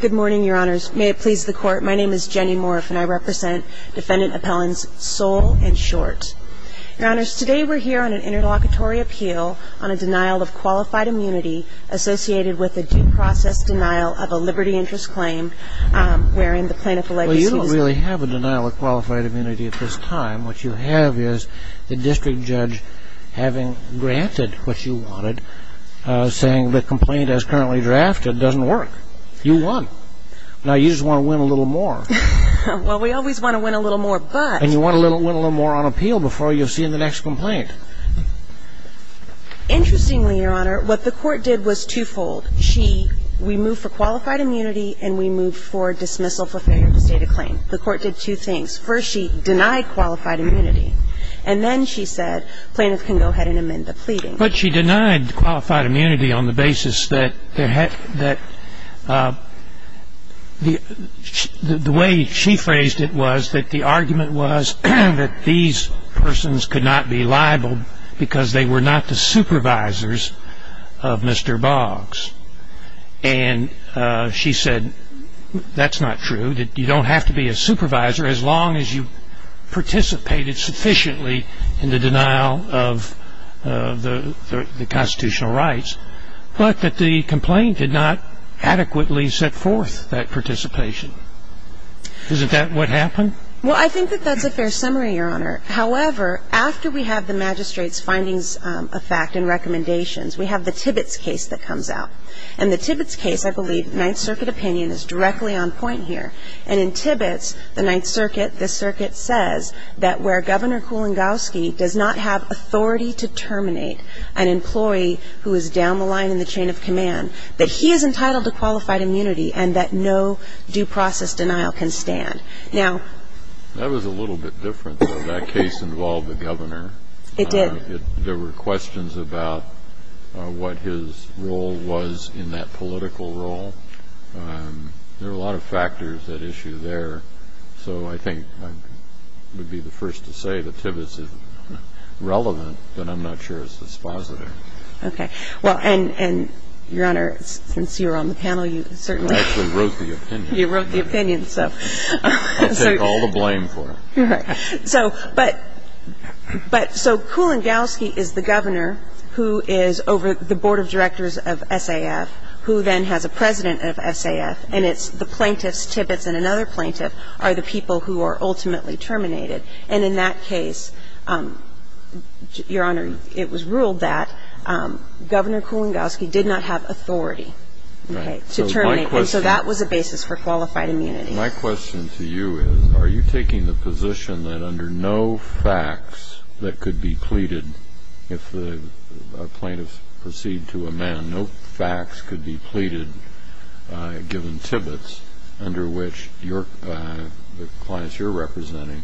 Good morning, Your Honors. May it please the Court, my name is Jenny Morriff and I represent Defendant Appellants Sowle and Short. Your Honors, today we're here on an interlocutory appeal on a denial of qualified immunity associated with a due process denial of a liberty interest claim, wherein the plaintiff alleges he was... Well, you don't really have a denial of qualified immunity at this time. What you have is the district judge having granted what you wanted, saying the complaint as currently drafted doesn't work. You won. Now, you just want to win a little more. Well, we always want to win a little more, but... And you want to win a little more on appeal before you're seeing the next complaint. Interestingly, Your Honor, what the Court did was twofold. We moved for qualified immunity and we moved for dismissal for failure to state a claim. The Court did two things. First, she denied qualified immunity. And then she said, plaintiff can go ahead and amend the pleading. But she denied qualified immunity on the basis that the way she phrased it was that the argument was that these persons could not be liable because they were not the supervisors of Mr. Boggs. And she said that's not true, that you don't have to be a supervisor as long as you participated sufficiently in the denial of the constitutional rights, but that the complaint did not adequately set forth that participation. Isn't that what happened? Well, I think that that's a fair summary, Your Honor. However, after we have the magistrate's findings of fact and recommendations, we have the Tibbetts case that comes out. In the Tibbetts case, I believe Ninth Circuit opinion is directly on point here. And in Tibbetts, the Ninth Circuit, the circuit says that where Governor Kulingowski does not have authority to terminate an employee who is down the line in the chain of command, that he is entitled to qualified immunity and that no due process denial can stand. Now ---- That was a little bit different, though. That case involved the governor. It did. There were questions about what his role was in that political role. There were a lot of factors at issue there. So I think I would be the first to say that Tibbetts is relevant, but I'm not sure it's dispositive. Okay. Well, and, Your Honor, since you're on the panel, you certainly ---- I actually wrote the opinion. You wrote the opinion. So ---- I'll take all the blame for it. All right. So, but so Kulingowski is the governor who is over the board of directors of SAF, who then has a president of SAF, and it's the plaintiffs, Tibbetts and another plaintiff, are the people who are ultimately terminated. And in that case, Your Honor, it was ruled that Governor Kulingowski did not have authority to terminate. And so that was a basis for qualified immunity. My question to you is, are you taking the position that under no facts that could be pleaded, if the plaintiffs proceed to amend, no facts could be pleaded, given Tibbetts, under which the clients you're representing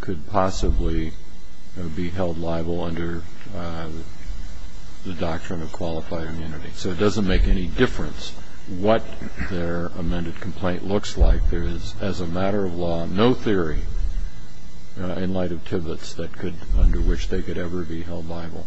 could possibly be held liable under the doctrine of qualified immunity? So it doesn't make any difference what their amended complaint looks like. There is, as a matter of law, no theory in light of Tibbetts that could ---- under which they could ever be held liable.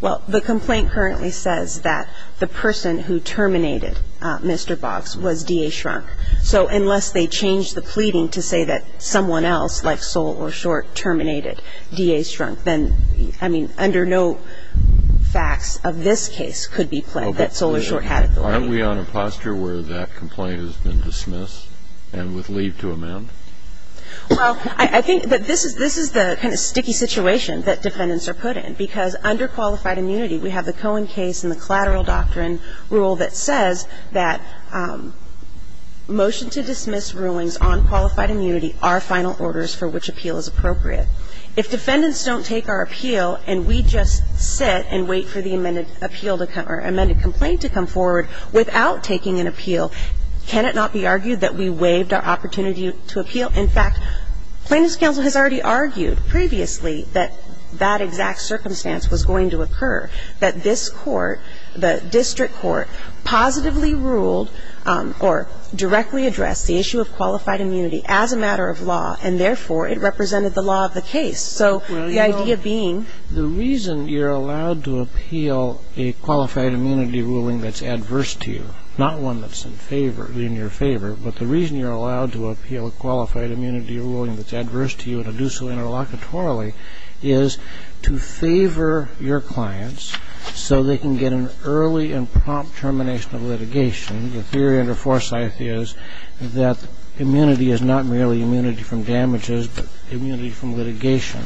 Well, the complaint currently says that the person who terminated Mr. Boggs was D.A. Shrunk. So unless they change the pleading to say that someone else, like Sol or Short, terminated D.A. Shrunk, then, I mean, under no facts of this case could be pledged that Sol or Short had authority. Aren't we on a posture where that complaint has been dismissed and with leave to amend? Well, I think that this is the kind of sticky situation that defendants are put in. Because under qualified immunity, we have the Cohen case and the collateral doctrine rule that says that motion to dismiss rulings on qualified immunity are final orders for which appeal is appropriate. If defendants don't take our appeal and we just sit and wait for the amended appeal to come or amended complaint to come forward without taking an appeal, can it not be argued that we waived our opportunity to appeal? In fact, Plaintiffs' Counsel has already argued previously that that exact circumstance was going to occur, that this Court, the district court, positively ruled or directly addressed the issue of qualified immunity as a matter of law, and therefore, it represented the law of the case. So the idea being the reason you're allowed to appeal a qualified immunity ruling that's adverse to you, not one that's in favor, in your favor, but the reason you're allowed to appeal a qualified immunity ruling that's adverse to you and to do so interlocutorily is to favor your clients so they can get an early and prompt termination of litigation. The theory under Forsyth is that immunity is not merely immunity from damages, but immunity from litigation.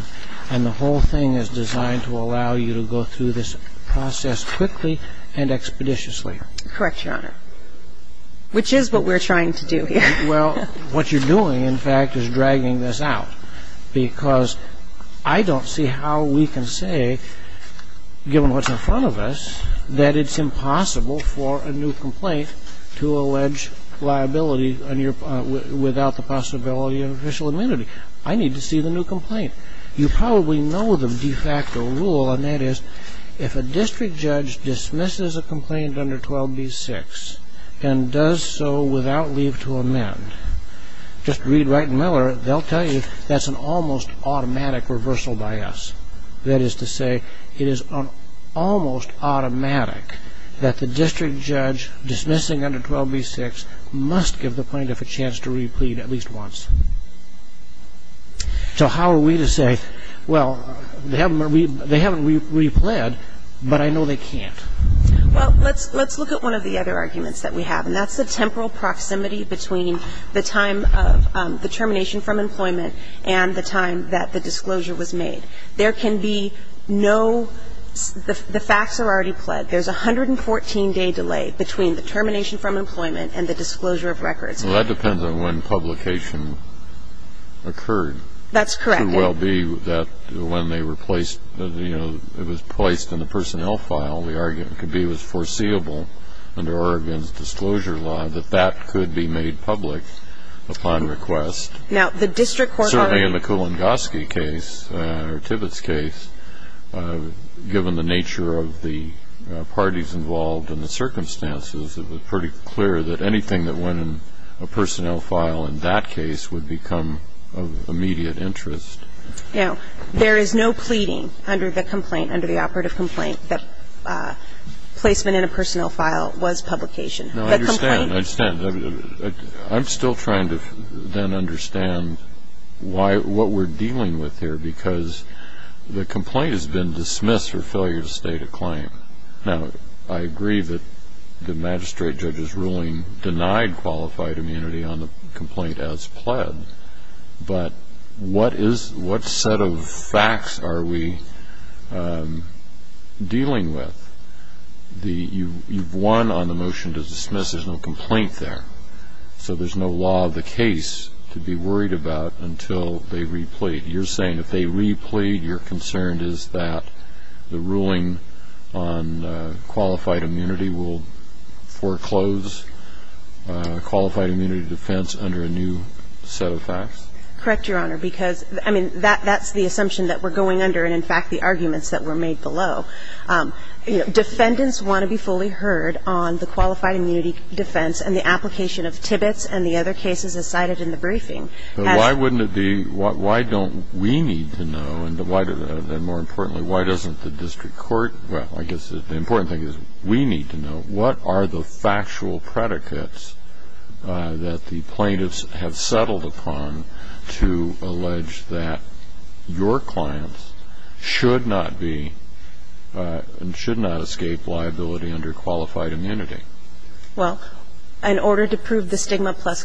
And the whole thing is designed to allow you to go through this process quickly and expeditiously. Correct, Your Honor. Which is what we're trying to do here. Well, what you're doing, in fact, is dragging this out, because I don't see how we can say, given what's in front of us, that it's impossible for a new complaint to allege liability without the possibility of official immunity. I need to see the new complaint. You probably know the de facto rule, and that is if a district judge dismisses a complaint under 12b-6 and does so without leave to amend, just read Wright and Miller, they'll tell you that's an almost automatic reversal by us. That is to say, it is almost automatic that the district judge dismissing under 12b-6 must give the plaintiff a chance to replead at least once. So how are we to say, well, they haven't replead, but I know they can't? Well, let's look at one of the other arguments that we have, and that's the temporal proximity between the time of the termination from employment and the time that the disclosure was made. There can be no ‑‑ the facts are already pled. There's a 114‑day delay between the termination from employment and the disclosure of records. Well, that depends on when publication occurred. That's correct. It could well be that when they were placed, you know, it was placed in the personnel file. The argument could be it was foreseeable under Oregon's disclosure law that that could be made public upon request. Now, the district court already ‑‑ in the circumstances, it was pretty clear that anything that went in a personnel file in that case would become of immediate interest. Now, there is no pleading under the complaint, under the operative complaint, that placement in a personnel file was publication. No, I understand. I understand. I'm still trying to then understand why ‑‑ what we're dealing with here, because the complaint has been dismissed for failure to state a claim. Now, I agree that the magistrate judge's ruling denied qualified immunity on the complaint as pled. But what is ‑‑ what set of facts are we dealing with? You've won on the motion to dismiss. There's no complaint there. So there's no law of the case to be worried about until they replete. You're saying if they replete, your concern is that the ruling on qualified immunity will foreclose qualified immunity defense under a new set of facts? Correct, Your Honor, because, I mean, that's the assumption that we're going under and, in fact, the arguments that were made below. Defendants want to be fully heard on the qualified immunity defense and the application of Tibbetts and the other cases as cited in the briefing. But why wouldn't it be ‑‑ why don't we need to know, and more importantly, why doesn't the district court ‑‑ well, I guess the important thing is we need to know what are the factual predicates that the plaintiffs have settled upon to allege that your clients should not be and should not escape liability under qualified immunity? Well, in order to prove the stigma plus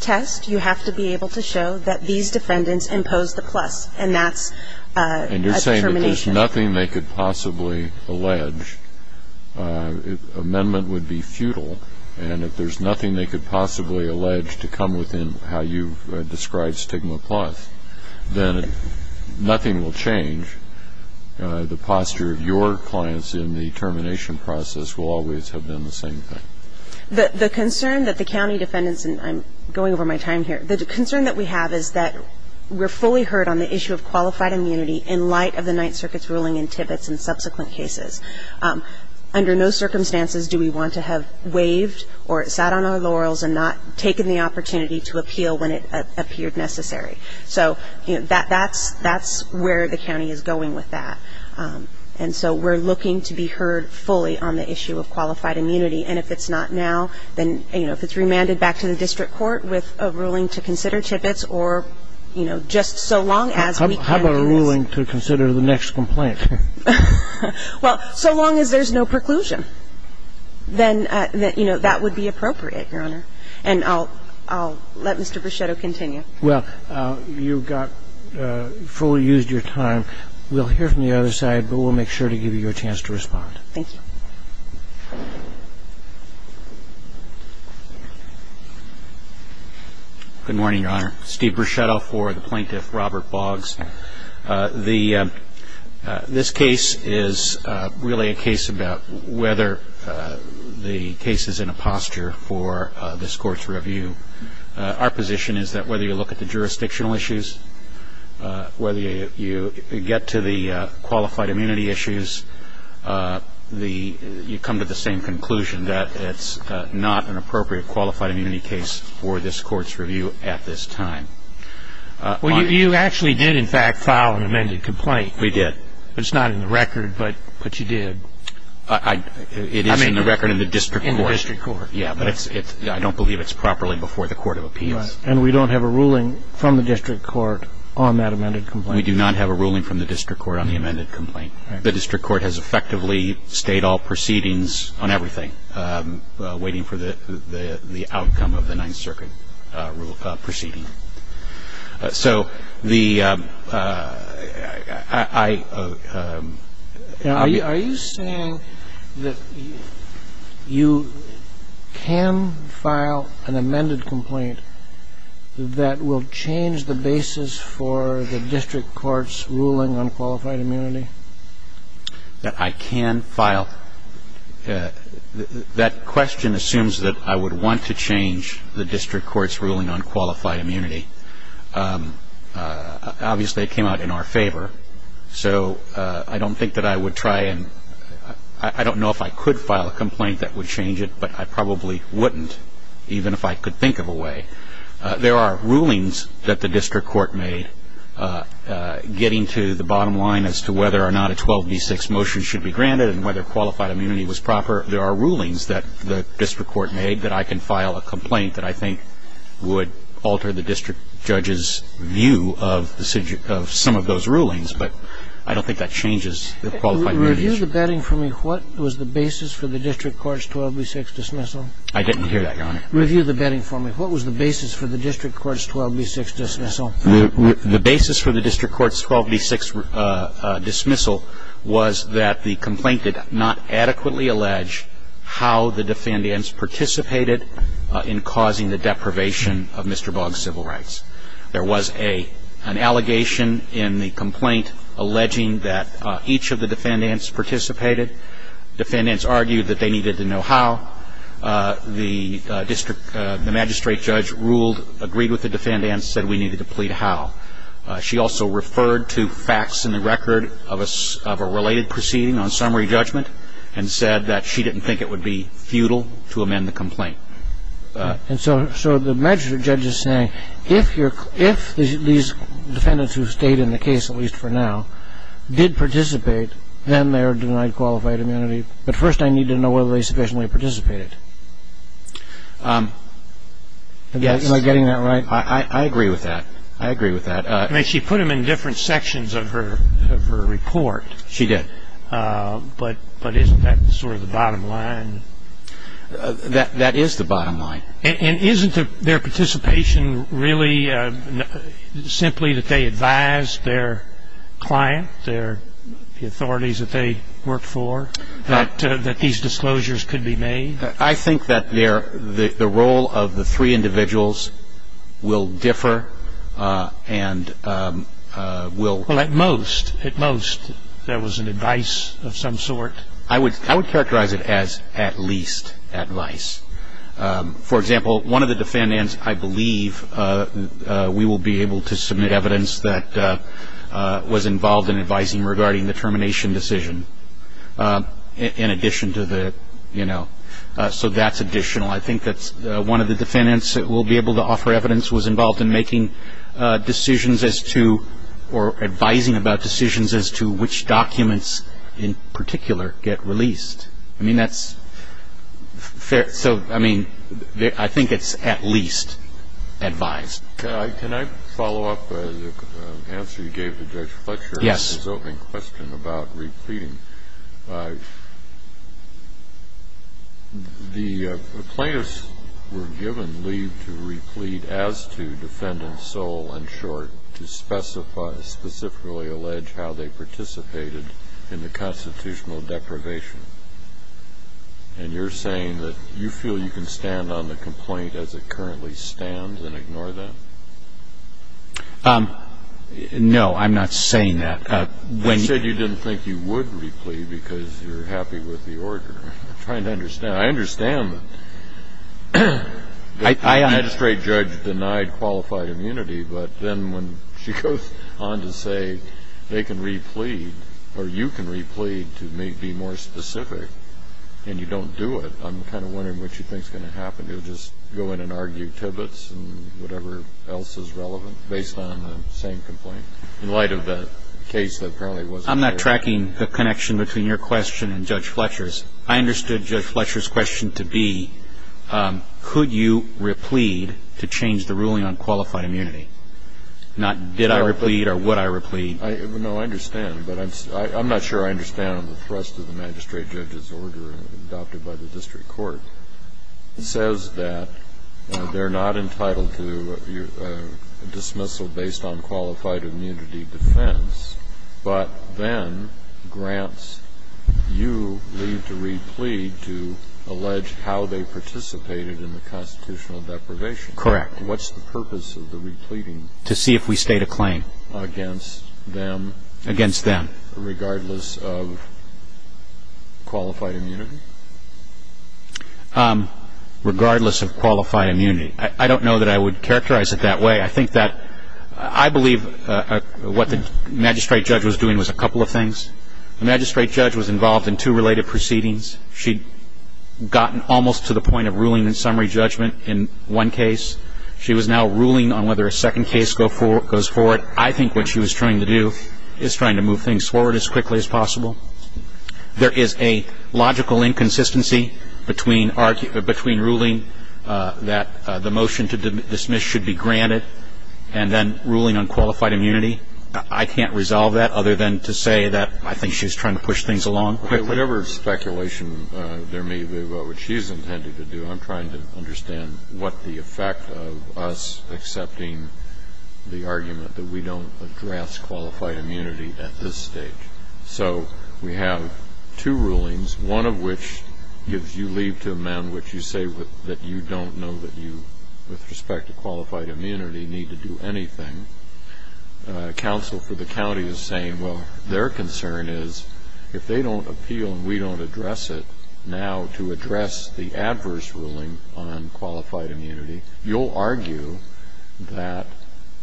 test, you have to be able to show that these defendants imposed the plus, and that's a determination. And you're saying if there's nothing they could possibly allege, amendment would be futile. And if there's nothing they could possibly allege to come within how you've described stigma plus, then nothing will change. The posture of your clients in the termination process will always have been the same thing. The concern that the county defendants ‑‑ and I'm going over my time here. The concern that we have is that we're fully heard on the issue of qualified immunity in light of the Ninth Circuit's ruling in Tibbetts and subsequent cases. Under no circumstances do we want to have waived or sat on our laurels and not taken the opportunity to appeal when it appeared necessary. So, you know, that's where the county is going with that. And so we're looking to be heard fully on the issue of qualified immunity. And if it's not now, then, you know, if it's remanded back to the district court with a ruling to consider Tibbetts or, you know, just so long as we can ‑‑ How about a ruling to consider the next complaint? Well, so long as there's no preclusion, then, you know, that would be appropriate, Your Honor. And I'll let Mr. Bruchetto continue. Well, you've got ‑‑ fully used your time. We'll hear from the other side, but we'll make sure to give you a chance to respond. Thank you. Good morning, Your Honor. Steve Bruchetto for the plaintiff, Robert Boggs. This case is really a case about whether the case is in a posture for this Court's review. Our position is that whether you look at the jurisdictional issues, whether you get to the qualified immunity issues, you come to the same conclusion that it's not an appropriate qualified immunity case for this Court's review at this time. Well, you actually did, in fact, file an amended complaint. We did. It's not in the record, but you did. It is in the record in the district court. In the district court. I don't believe it's properly before the court of appeals. And we don't have a ruling from the district court on that amended complaint. We do not have a ruling from the district court on the amended complaint. The district court has effectively stayed all proceedings on everything, waiting for the outcome of the Ninth Circuit proceeding. So the ‑‑ I ‑‑ Are you saying that you can file an amended complaint that will change the basis for the district court's ruling on qualified immunity? That I can file ‑‑ that question assumes that I would want to change the district court's ruling on qualified immunity. Obviously, it came out in our favor. So I don't think that I would try and ‑‑ I don't know if I could file a complaint that would change it, but I probably wouldn't, even if I could think of a way. There are rulings that the district court made getting to the bottom line as to whether or not a 12B6 motion should be granted and whether qualified immunity was proper. There are rulings that the district court made that I can file a complaint that I think would alter the district judge's view of some of those rulings, but I don't think that changes the qualified immunity issue. Review the bedding for me. What was the basis for the district court's 12B6 dismissal? I didn't hear that, Your Honor. Review the bedding for me. What was the basis for the district court's 12B6 dismissal? The basis for the district court's 12B6 dismissal was that the complaint did not adequately allege how the defendants participated in causing the deprivation of Mr. Boggs' civil rights. There was an allegation in the complaint alleging that each of the defendants participated. Defendants argued that they needed to know how. The magistrate judge ruled, agreed with the defendant and said we needed to plead how. She also referred to facts in the record of a related proceeding on summary judgment and said that she didn't think it would be futile to amend the complaint. And so the magistrate judge is saying if these defendants who stayed in the case, at least for now, did participate, then they are denied qualified immunity. But first I need to know whether they sufficiently participated. Am I getting that right? I agree with that. I agree with that. She put them in different sections of her report. She did. But isn't that sort of the bottom line? That is the bottom line. And isn't their participation really simply that they advised their client, the authorities that they worked for, that these disclosures could be made? I think that the role of the three individuals will differ and will. Well, at most, at most there was an advice of some sort. I would characterize it as at least advice. For example, one of the defendants I believe we will be able to submit evidence that was involved in advising regarding the termination decision in addition to the, you know. So that's additional. I think that one of the defendants that we'll be able to offer evidence was involved in making decisions as to or advising about decisions as to which documents in particular get released. I mean, that's fair. So, I mean, I think it's at least advised. Can I follow up the answer you gave to Judge Fletcher? Yes. His opening question about repleting. The plaintiffs were given leave to replete as to defendant's sole and short to specify, specifically allege how they participated in the constitutional deprivation. And you're saying that you feel you can stand on the complaint as it currently stands and ignore that? No, I'm not saying that. You said you didn't think you would replete because you're happy with the order. I'm trying to understand. I understand that the magistrate judge denied qualified immunity, but then when she goes on to say they can replete or you can replete to be more specific and you don't do it, I'm kind of wondering what you think is going to happen. You'll just go in and argue tibbits and whatever else is relevant based on the same complaint. In light of the case that apparently wasn't there. I'm not tracking the connection between your question and Judge Fletcher's. I understood Judge Fletcher's question to be could you replete to change the ruling on qualified immunity? Not did I replete or would I replete. No, I understand. But I'm not sure I understand the thrust of the magistrate judge's order adopted by the district court. It says that they're not entitled to dismissal based on qualified immunity defense, but then grants you leave to replete to allege how they participated in the constitutional deprivation. Correct. And what's the purpose of the repleting? To see if we state a claim. Against them? Against them. Regardless of qualified immunity? Regardless of qualified immunity. I don't know that I would characterize it that way. I think that I believe what the magistrate judge was doing was a couple of things. The magistrate judge was involved in two related proceedings. She'd gotten almost to the point of ruling and summary judgment in one case. She was now ruling on whether a second case goes forward. I think what she was trying to do is trying to move things forward as quickly as possible. There is a logical inconsistency between ruling that the motion to dismiss should be granted and then ruling on qualified immunity. I can't resolve that other than to say that I think she was trying to push things along quickly. Whatever speculation there may be about what she's intended to do, I'm trying to understand what the effect of us accepting the argument that we don't address qualified immunity at this stage. So we have two rulings, one of which gives you leave to amend, which you say that you don't know that you, with respect to qualified immunity, need to do anything. Counsel for the county is saying, well, their concern is if they don't appeal and we don't address it now to address the adverse ruling on qualified immunity, you'll argue that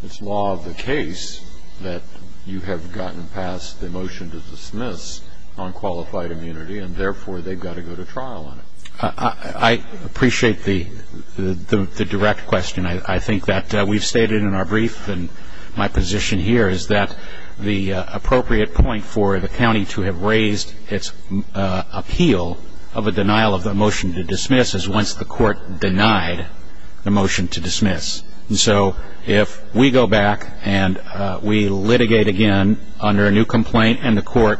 it's law of the case that you have gotten past the motion to dismiss on qualified immunity and, therefore, they've got to go to trial on it. I appreciate the direct question. I think that we've stated in our brief and my position here is that the appropriate point for the county to have raised its appeal of a denial of the motion to dismiss is once the court denied the motion to dismiss. And so if we go back and we litigate again under a new complaint and the court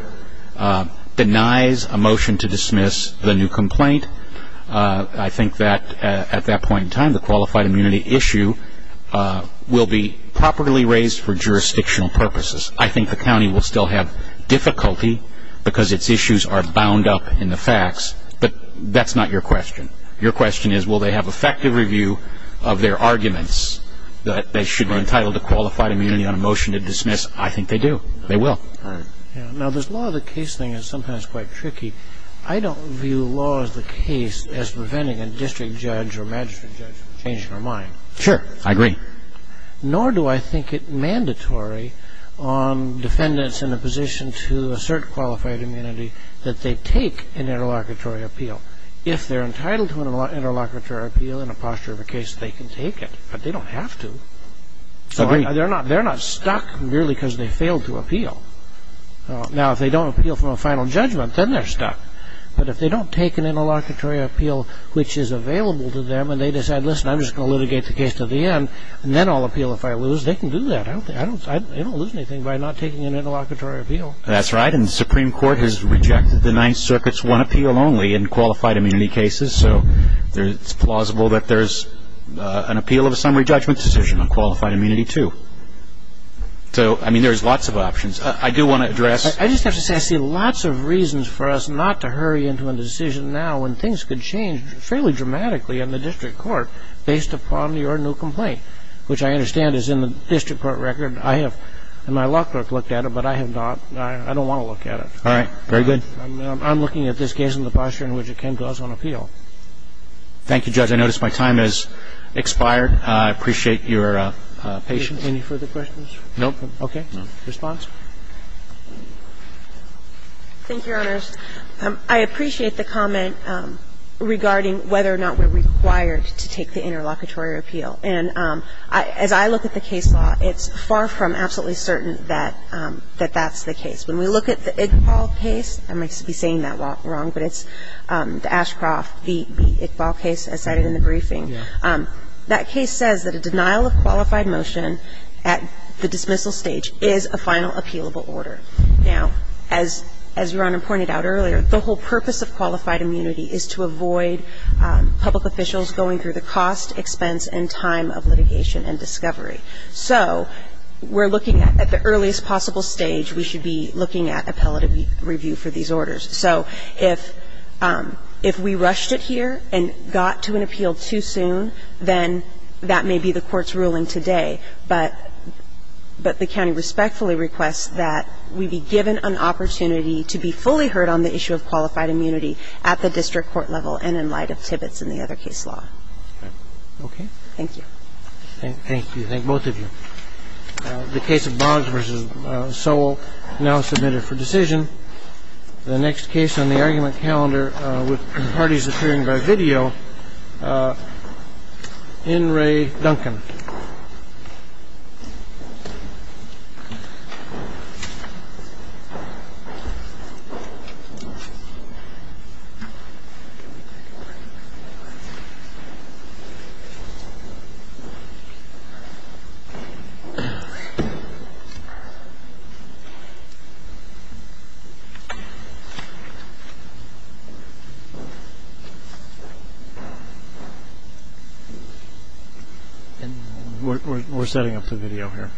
denies a motion to dismiss the new complaint, I think that at that point in time the qualified immunity issue will be properly raised for jurisdictional purposes. I think the county will still have difficulty because its issues are bound up in the facts, but that's not your question. Your question is will they have effective review of their arguments that they should be entitled to qualified immunity on a motion to dismiss? I think they do. They will. Now, this law of the case thing is sometimes quite tricky. I don't view law of the case as preventing a district judge or magistrate judge from changing their mind. Sure, I agree. Nor do I think it mandatory on defendants in a position to assert qualified immunity that they take an interlocutory appeal. If they're entitled to an interlocutory appeal in a posture of a case, they can take it. But they don't have to. They're not stuck merely because they failed to appeal. Now, if they don't appeal from a final judgment, then they're stuck. But if they don't take an interlocutory appeal which is available to them and they decide, listen, I'm just going to litigate the case to the end and then I'll appeal if I lose, they can do that. They don't lose anything by not taking an interlocutory appeal. That's right. And the Supreme Court has rejected the Ninth Circuit's one appeal only in qualified immunity cases. So it's plausible that there's an appeal of a summary judgment decision on qualified immunity too. So, I mean, there's lots of options. I do want to address I just have to say I see lots of reasons for us not to hurry into a decision now when things could change fairly dramatically in the district court based upon your new complaint, which I understand is in the district court record. I have in my lock book looked at it, but I have not. I don't want to look at it. All right. Very good. I'm looking at this case in the posture in which it came to us on appeal. Thank you, Judge. I notice my time has expired. I appreciate your patience. Any further questions? No. Okay. Response? Thank you, Your Honors. I appreciate the comment regarding whether or not we're required to take the interlocutory appeal. And as I look at the case law, it's far from absolutely certain that that's the case. When we look at the Iqbal case, I might be saying that wrong, but it's the Ashcroft, the Iqbal case I cited in the briefing. That case says that a denial of qualified motion at the dismissal stage is a final appealable order. Now, as Your Honor pointed out earlier, the whole purpose of qualified immunity is to avoid public officials going through the cost, expense, and time of litigation and discovery. So we're looking at the earliest possible stage, we should be looking at appellative review for these orders. So if we rushed it here and got to an appeal too soon, then that may be the court's ruling today. But the county respectfully requests that we be given an opportunity to be fully heard on the issue of qualified immunity at the district court level and in light of Tibbetts and the other case law. Okay. Thank you. Thank you. Thank both of you. The case of Boggs v. Sowell now submitted for decision. The next case on the argument calendar with parties appearing by video, N. Ray Duncan. Mr. Duncan. We're setting up the video here.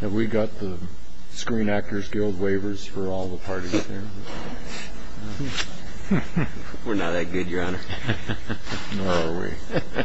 Have we got the Screen Actors Guild waivers for all the parties there? We're not that good, Your Honor. Nor are we. Okay.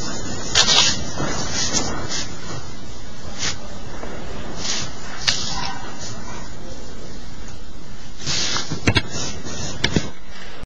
Okay. Okay. Okay. Okay. Okay. Okay. Okay. Okay. Okay. Okay. Okay.